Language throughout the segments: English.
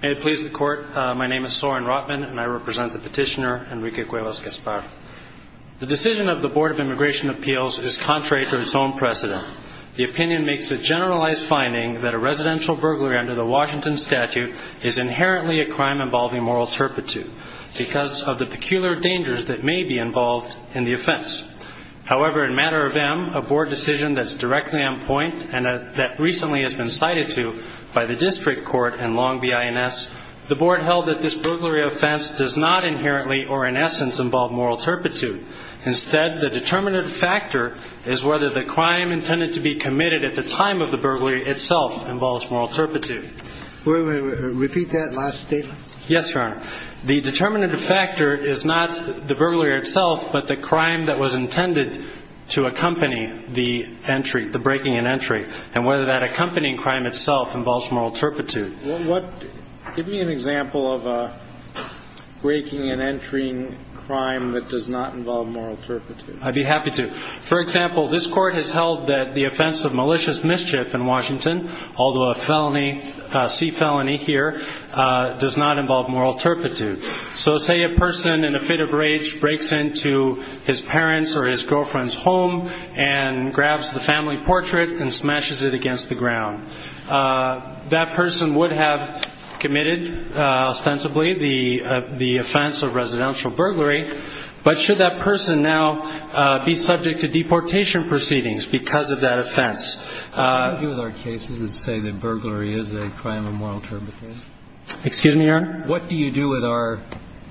May it please the Court, my name is Soren Rotman and I represent the petitioner Enrique Cuevas-Gaspar. The decision of the Board of Immigration Appeals is contrary to its own precedent. The opinion makes a generalized finding that a residential burglary under the Washington statute is inherently a crime involving moral turpitude because of the peculiar dangers that may be involved in the offense. However, in matter of M, a board decision that is directly on point and that recently has been cited to by the District Court and Longby INS, the Board held that this burglary offense does not inherently or in essence involve moral turpitude. Instead, the determinative factor is whether the crime intended to be committed at the time of the burglary itself involves moral turpitude. Repeat that last statement. Yes, Your Honor. The determinative factor is not the burglary itself but the crime that was intended to accompany the entry, the breaking and entry, and whether that accompanying crime itself involves moral turpitude. Give me an example of a breaking and entering crime that does not involve moral turpitude. I'd be happy to. For example, this Court has held that the offense of malicious mischief in Washington, although a C felony here, does not involve moral turpitude. So say a person in a fit of rage breaks into his parents' or his girlfriend's home and grabs the family portrait and smashes it against the ground. That person would have committed ostensibly the offense of residential burglary, but should that person now be subject to deportation proceedings because of that offense? I agree with our cases that say that burglary is a crime of moral turpitude. Excuse me, Your Honor. What do you do with our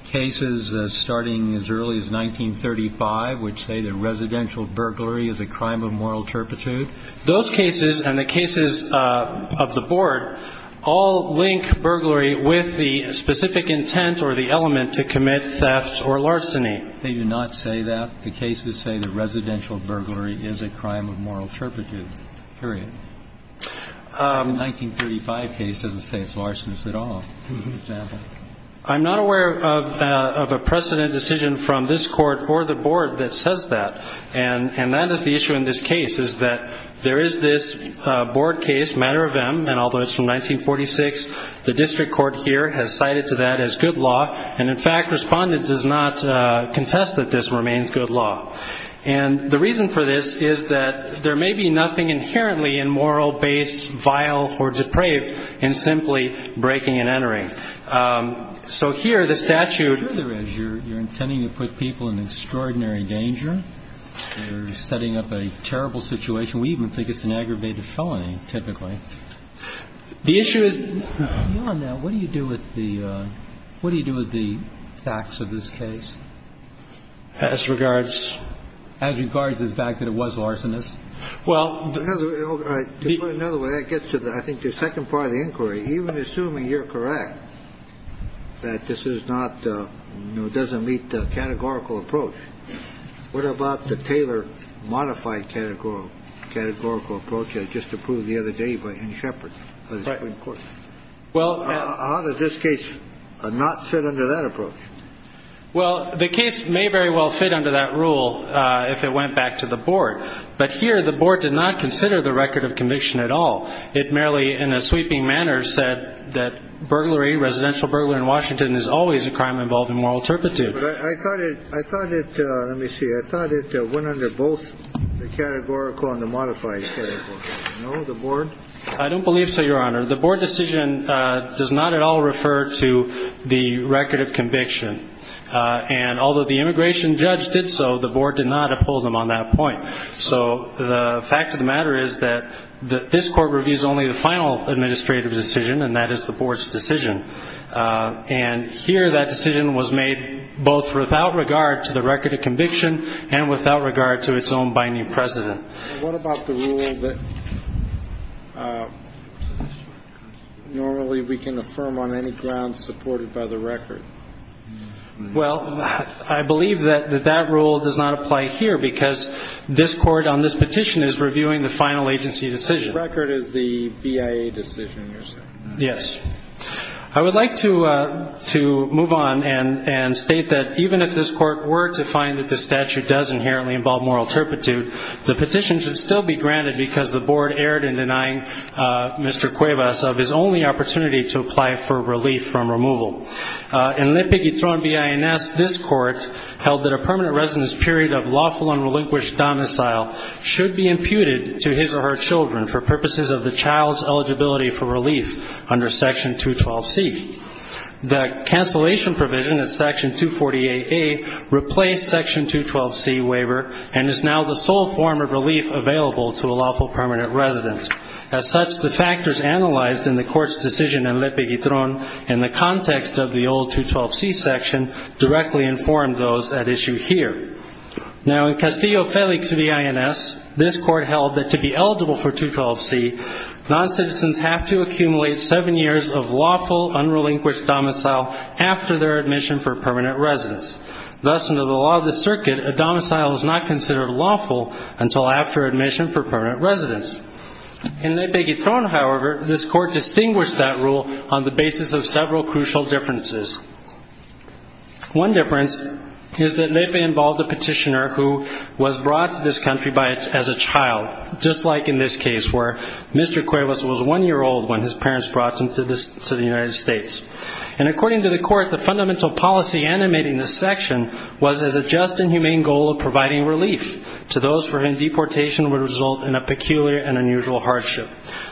cases starting as early as 1935 which say that residential burglary is a crime of moral turpitude? Those cases and the cases of the Board all link burglary with the specific intent or the element to commit theft or larceny. They do not say that. The cases say that residential burglary is a crime of moral turpitude, period. The 1935 case doesn't say it's larcenous at all, for example. I'm not aware of a precedent decision from this Court or the Board that says that, and that is the issue in this case is that there is this Board case, matter of M, and although it's from 1946, the district court here has cited to that as good law, and, in fact, Respondent does not contest that this remains good law. And the reason for this is that there may be nothing inherently immoral, base, vile, or depraved in simply breaking and entering. So here the statute. Sure there is. You're intending to put people in extraordinary danger. You're setting up a terrible situation. We even think it's an aggravated felony, typically. The issue is, beyond that, what do you do with the facts of this case? As regards? As regards the fact that it was larcenous. Well. To put it another way, that gets to, I think, the second part of the inquiry. Even assuming you're correct that this is not, you know, doesn't meet the categorical approach, what about the Taylor modified categorical approach I just approved the other day by Anne Shepard? Right. How does this case not fit under that approach? Well, the case may very well fit under that rule if it went back to the board. But here the board did not consider the record of conviction at all. It merely, in a sweeping manner, said that burglary, residential burglary in Washington, is always a crime involved in moral turpitude. I thought it, let me see, I thought it went under both the categorical and the modified categorical. No, the board? I don't believe so, Your Honor. The board decision does not at all refer to the record of conviction. And although the immigration judge did so, the board did not uphold him on that point. So the fact of the matter is that this court reviews only the final administrative decision, and that is the board's decision. And here that decision was made both without regard to the record of conviction and without regard to its own binding precedent. What about the rule that normally we can affirm on any ground supported by the record? Well, I believe that that rule does not apply here because this Court on this petition is reviewing the final agency decision. The record is the BIA decision, you're saying? Yes. I would like to move on and state that even if this Court were to find that the statute does inherently involve moral turpitude, the petition should still be granted because the board erred in denying Mr. Cuevas of his only opportunity to apply for relief from removal. In L'Ipiguitron B.I.N.S., this Court held that a permanent residence period of lawful and relinquished domicile should be imputed to his or her children for purposes of the child's eligibility for relief under Section 212C. The cancellation provision of Section 248A replaced Section 212C waiver and is now the sole form of relief available to a lawful permanent resident. As such, the factors analyzed in the Court's decision in L'Ipiguitron in the context of the old 212C section directly informed those at issue here. Now, in Castillo-Felix B.I.N.S., this Court held that to be eligible for 212C, noncitizens have to accumulate seven years of lawful, unrelinquished domicile after their admission for permanent residence. Thus, under the law of the circuit, a domicile is not considered lawful until after admission for permanent residence. In L'Ipiguitron, however, this Court distinguished that rule on the basis of several crucial differences. One difference is that L'Ipiguitron involved a petitioner who was brought to this country as a child, just like in this case where Mr. Cuevas was one year old when his parents brought him to the United States. And according to the Court, the fundamental policy animating this section was as a just and humane goal of providing relief to those for whom deportation would result in a peculiar and unusual hardship.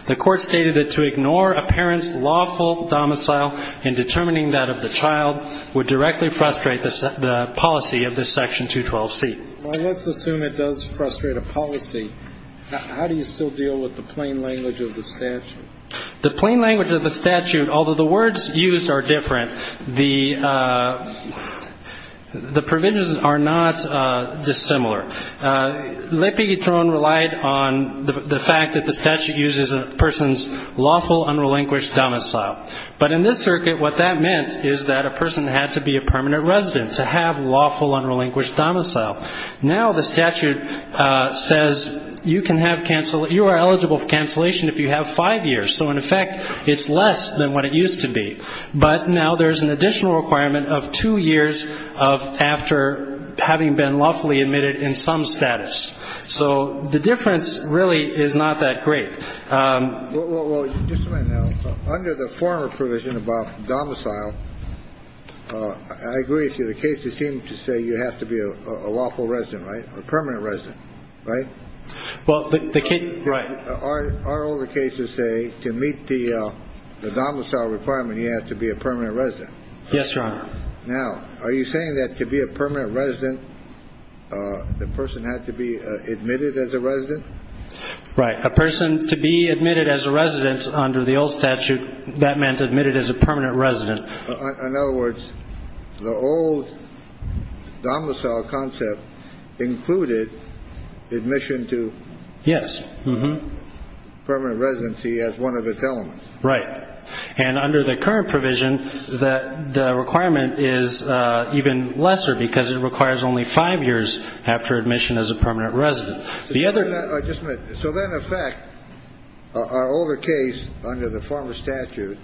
The Court stated that to ignore a parent's lawful domicile in determining that of the child would directly frustrate the policy of this Section 212C. Well, let's assume it does frustrate a policy. How do you still deal with the plain language of the statute? The plain language of the statute, although the words used are different, the provisions are not dissimilar. L'Ipiguitron relied on the fact that the statute uses a person's lawful, unrelinquished domicile. But in this circuit, what that meant is that a person had to be a permanent resident to have lawful, unrelinquished domicile. Now the statute says you are eligible for cancellation if you have five years. So, in effect, it's less than what it used to be. But now there's an additional requirement of two years after having been lawfully admitted in some status. So the difference really is not that great. Well, just a minute now. Under the former provision about domicile, I agree with you. The cases seem to say you have to be a lawful resident, right? A permanent resident, right? Well, the case... Our older cases say to meet the domicile requirement, you have to be a permanent resident. Yes, Your Honor. Now, are you saying that to be a permanent resident, the person had to be admitted as a resident? Right. A person to be admitted as a resident under the old statute, that meant admitted as a permanent resident. In other words, the old domicile concept included admission to permanent residency as one of its elements. Right. And under the current provision, the requirement is even lesser because it requires only five years after admission as a permanent resident. The other... Just a minute. So then, in effect, our older case under the former statute,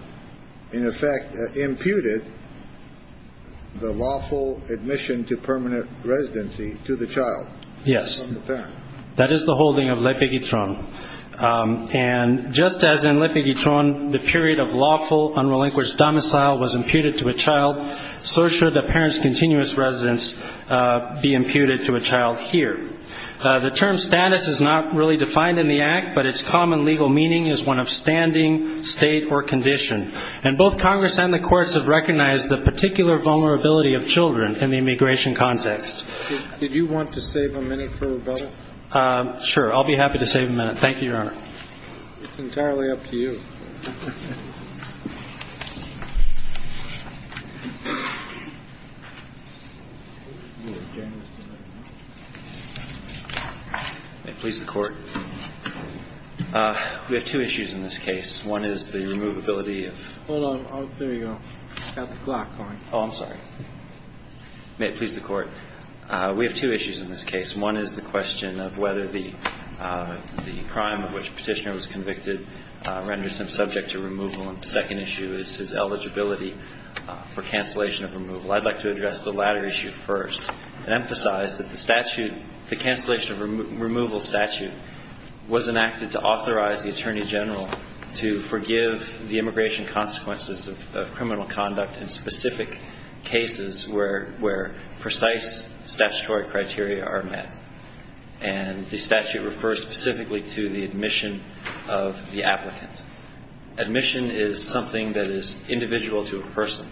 in effect, imputed the lawful admission to permanent residency to the child? Yes. From the parent. That is the holding of L'Epiguitron. And just as in L'Epiguitron, the period of lawful, unrelinquished domicile was imputed to a child, so should the parent's continuous residence be imputed to a child here. The term status is not really defined in the Act, but its common legal meaning is one of standing, state, or condition. And both Congress and the courts have recognized the particular vulnerability of children in the immigration context. Did you want to save a minute for rebuttal? Sure. I'll be happy to save a minute. Thank you, Your Honor. It's entirely up to you. May it please the Court. We have two issues in this case. One is the removability of... Hold on. There you go. I've got the clock going. Oh, I'm sorry. May it please the Court. We have two issues in this case. One is the question of whether the crime of which the petitioner was convicted renders him subject to removal. And the second issue is his eligibility for cancellation of removal. I'd like to address the latter issue first and emphasize that the statute, the cancellation of removal statute, was enacted to authorize the Attorney General to forgive the immigration consequences of criminal conduct in specific cases where precise statutory criteria are met. And the statute refers specifically to the admission of the applicant. Admission is something that is individual to a person,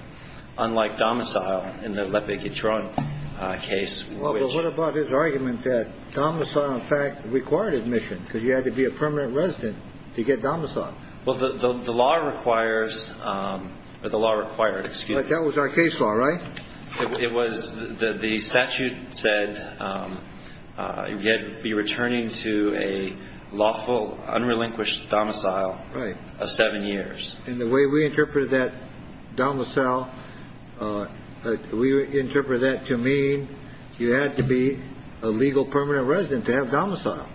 unlike domicile in the Lepe-Guitron case, which... Well, but what about his argument that domicile, in fact, required admission because you had to be a permanent resident to get domiciled? Well, the law requires or the law required, excuse me... But that was our case law, right? It was. The statute said you had to be returning to a lawful, unrelinquished domicile of seven years. And the way we interpreted that domicile, we interpreted that to mean you had to be a legal permanent resident to have domicile,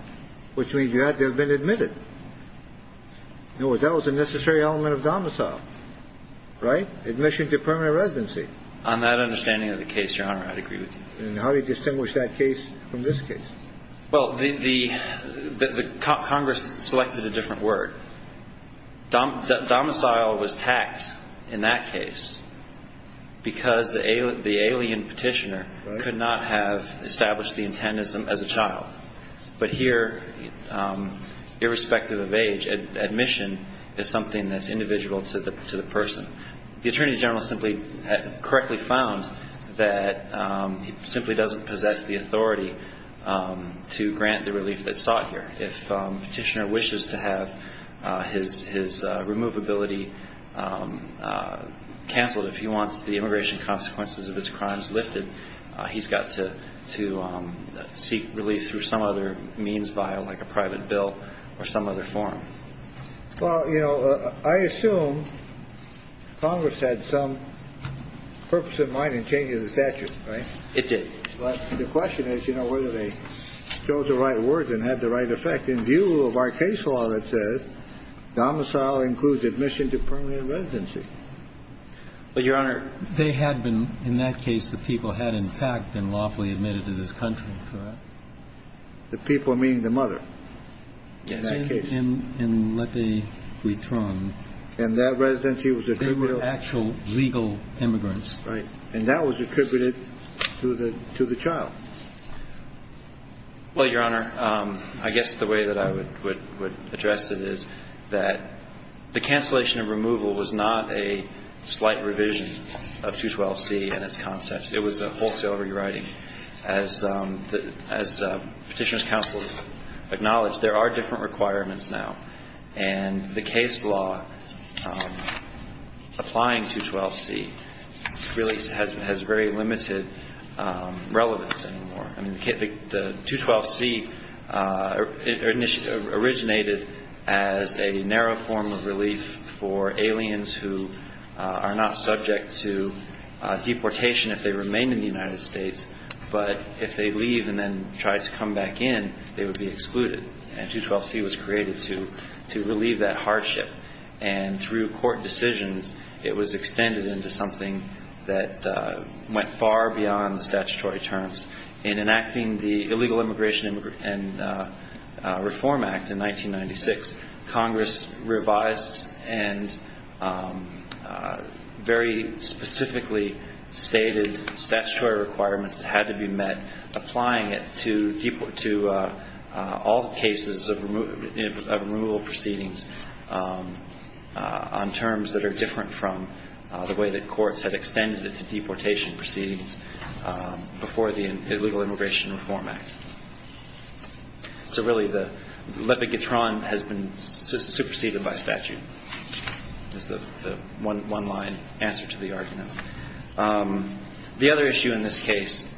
which means you had to have been admitted. In other words, that was a necessary element of domicile, right? Admission to permanent residency. On that understanding of the case, Your Honor, I'd agree with you. And how do you distinguish that case from this case? Well, the Congress selected a different word. Domicile was taxed in that case because the alien petitioner could not have established the intendant as a child. But here, irrespective of age, admission is something that's individual to the person. The Attorney General simply correctly found that he simply doesn't possess the authority to grant the relief that's sought here. If a petitioner wishes to have his removability canceled, if he wants the immigration consequences of his crimes lifted, he's got to seek relief through some other means via, like, a private bill or some other form. Well, you know, I assume Congress had some purpose in mind in changing the statute, right? It did. But the question is, you know, whether they chose the right words and had the right effect. In view of our case law that says domicile includes admission to permanent residency. Well, Your Honor, they had been, in that case, the people had, in fact, been lawfully admitted to this country, correct? The people meaning the mother. Yes. In that case. And let me re-thrown. And that residency was attributed to? They were actual legal immigrants. Right. And that was attributed to the child. Well, Your Honor, I guess the way that I would address it is that the cancellation of removal was not a slight revision of 212C and its concepts. It was a wholesale rewriting. As Petitioner's Counsel acknowledged, there are different requirements now. And the case law applying 212C really has very limited relevance anymore. I mean, the 212C originated as a narrow form of relief for aliens who are not subject to deportation if they remain in the United States, but if they leave and then try to come back in, they would be excluded. And 212C was created to relieve that hardship. And through court decisions, it was extended into something that went far beyond the statutory terms. In enacting the Illegal Immigration and Reform Act in 1996, Congress revised and very specifically stated statutory requirements that had to be met, applying it to all deportees. And so we have cases of removal proceedings on terms that are different from the way that courts had extended it to deportation proceedings before the Illegal Immigration and Reform Act. So really the lepidotron has been superseded by statute. That's the one-line answer to the argument. The other issue in this case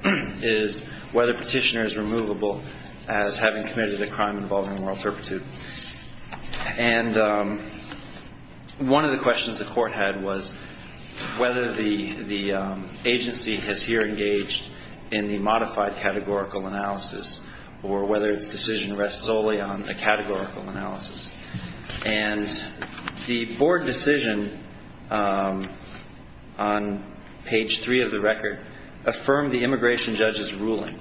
is whether Petitioner is removable as having committed a crime involving a moral turpitude. And one of the questions the Court had was whether the agency is here engaged in the modified categorical analysis or whether its decision rests solely on a categorical analysis. And the Board decision on page 3 of the record affirmed the immigration judge's ruling.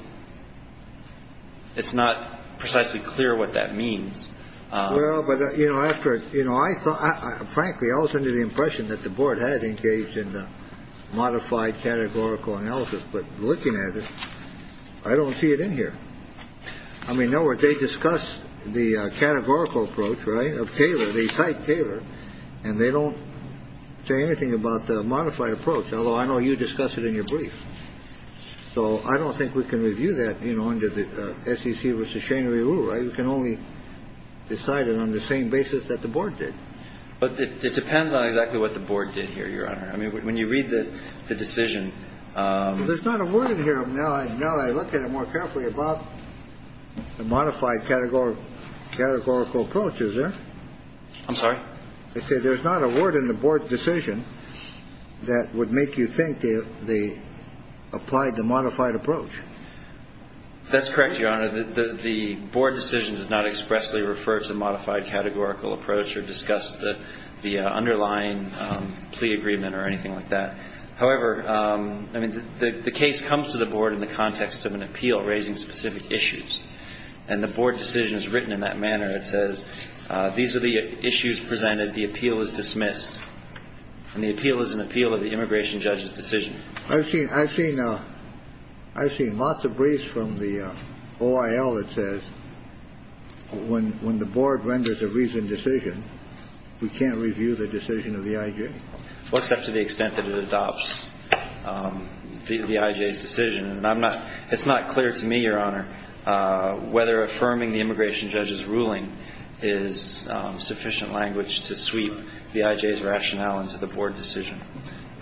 It's not precisely clear what that means. Well, but, you know, after you know, I thought frankly I was under the impression that the Board had engaged in the modified categorical analysis. But looking at it, I don't see it in here. I mean, nowhere they discuss the categorical approach, right, of Taylor. They cite Taylor, and they don't say anything about the modified approach, although I know you discuss it in your brief. So I don't think we can review that, you know, under the SEC v. Shane Rehul, right? We can only decide it on the same basis that the Board did. But it depends on exactly what the Board did here, Your Honor. I mean, when you read the decision ---- There's not a word in here. Now that I look at it more carefully, about the modified categorical approach, is there? I'm sorry? They say there's not a word in the Board decision that would make you think they applied the modified approach. That's correct, Your Honor. The Board decision does not expressly refer to the modified categorical approach or discuss the underlying plea agreement or anything like that. However, I mean, the case comes to the Board in the context of an appeal raising specific issues. And the Board decision is written in that manner. It says these are the issues presented. The appeal is dismissed. And the appeal is an appeal of the immigration judge's decision. I've seen lots of briefs from the OIL that says when the Board renders a reasoned decision, we can't review the decision of the I.J. Well, it's up to the extent that it adopts the I.J.'s decision. And it's not clear to me, Your Honor, whether affirming the immigration judge's ruling is sufficient language to sweep the I.J.'s rationale into the Board decision.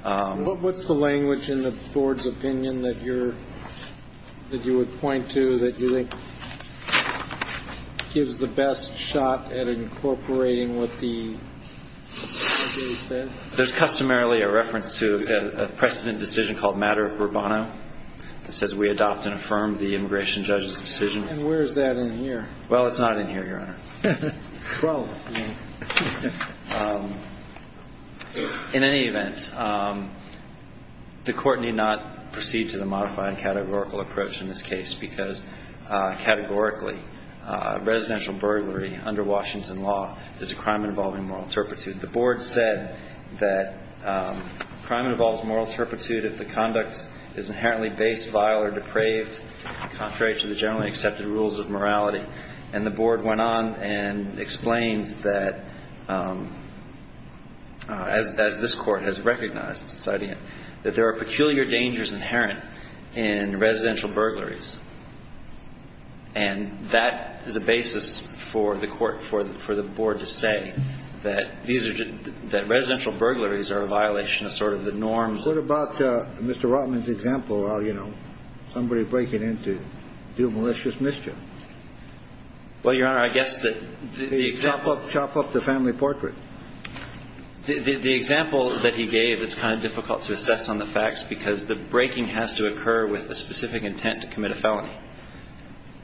What's the language in the Board's opinion that you would point to that you think gives the best shot at incorporating what the I.J. says? There's customarily a reference to a precedent decision called matter of Bourbono that says we adopt and affirm the immigration judge's decision. And where is that in here? Well, it's not in here, Your Honor. Probably. In any event, the Court need not proceed to the modify and categorical approach in this case because categorically, residential burglary under Washington law is a crime involving moral turpitude. The Board said that crime involves moral turpitude if the conduct is inherently base, vile, or depraved, contrary to the generally accepted rules of morality. And the Board went on and explained that, as this Court has recognized, that there are peculiar dangers inherent in residential burglaries. And that is a basis for the Court, for the Board to say that residential burglaries are a violation of sort of the norms. What about Mr. Rotman's example of, you know, somebody breaking in to do malicious mischief? Well, Your Honor, I guess that the example... Chop up the family portrait. The example that he gave is kind of difficult to assess on the facts because the breaking has to occur with a specific intent to commit a felony.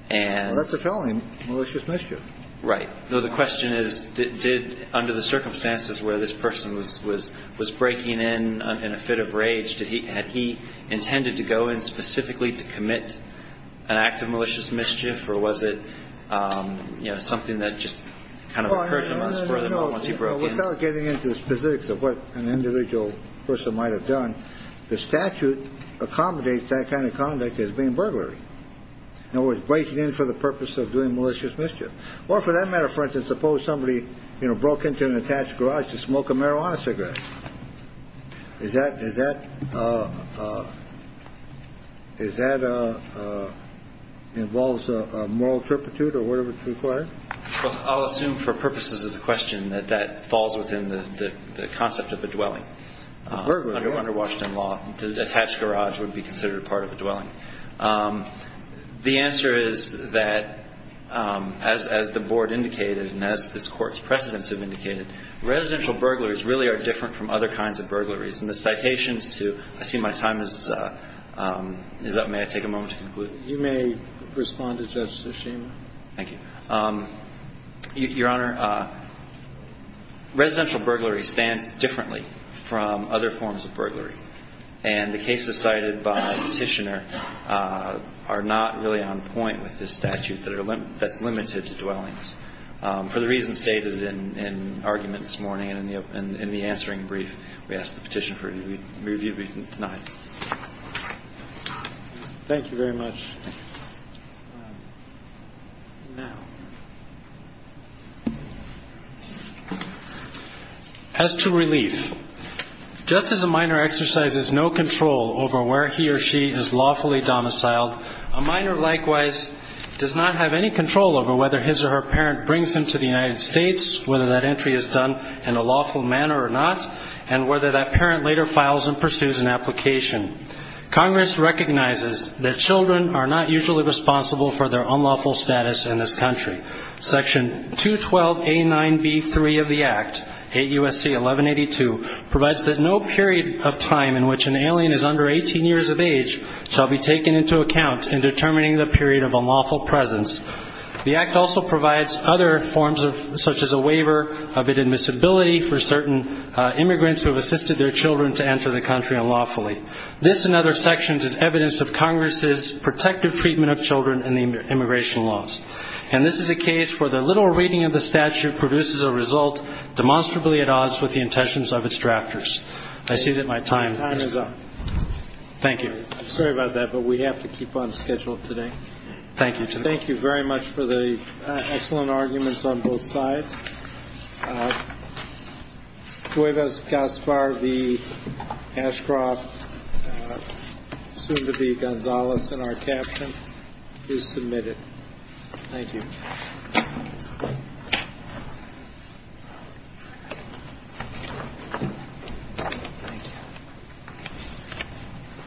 And... Well, that's a felony, malicious mischief. Right. No, the question is, did, under the circumstances where this person was breaking in in a fit of rage, had he intended to go in specifically to commit an act of malicious mischief? Or was it, you know, something that just kind of occurred to him once he broke in? Well, Your Honor, no. Without getting into the specifics of what an individual person might have done, the statute accommodates that kind of conduct as being burglary. In other words, breaking in for the purpose of doing malicious mischief. Or for that matter, for instance, suppose somebody, you know, broke into an attached garage to smoke a marijuana cigarette. Is that, is that, is that involves a moral turpitude or whatever is required? Well, I'll assume for purposes of the question that that falls within the concept of a dwelling. A burglary. Under Washington law, an attached garage would be considered part of a dwelling. The answer is that, as the Board indicated and as this Court's precedents have indicated, residential burglaries really are different from other kinds of burglaries. And the citations to, I see my time is up. May I take a moment to conclude? You may respond to Justice Schema. Thank you. Your Honor, residential burglary stands differently from other forms of burglary. And the cases cited by the Petitioner are not really on point with this statute that are, that's limited to dwellings. For the reasons stated in argument this morning and in the answering brief, we ask the Petitioner for review tonight. Thank you very much. Now, as to relief, just as a minor exercises no control over where he or she is lawfully domiciled, a minor likewise does not have any control over whether his or her parent brings him to the United States, whether that entry is done in a lawful manner or not, and whether that parent later files and pursues an application. Congress recognizes that children are not usually responsible for their unlawful status in this country. Section 212A9B3 of the Act, 8 U.S.C. 1182, provides that no period of time in which an alien is under 18 years of age shall be taken into account in determining the period of unlawful presence. The Act also provides other forms such as a waiver of admissibility for certain immigrants who have assisted their children to enter the country unlawfully. This and other sections is evidence of Congress's protective treatment of children in the immigration laws. And this is a case where the little reading of the statute produces a result demonstrably at odds with the intentions of its drafters. I see that my time is up. Thank you. I'm sorry about that, but we have to keep on schedule today. Thank you. Thank you very much for the excellent arguments on both sides. Cuevas Gaspar v. Ashcroft, soon to be Gonzalez in our caption, is submitted. Thank you.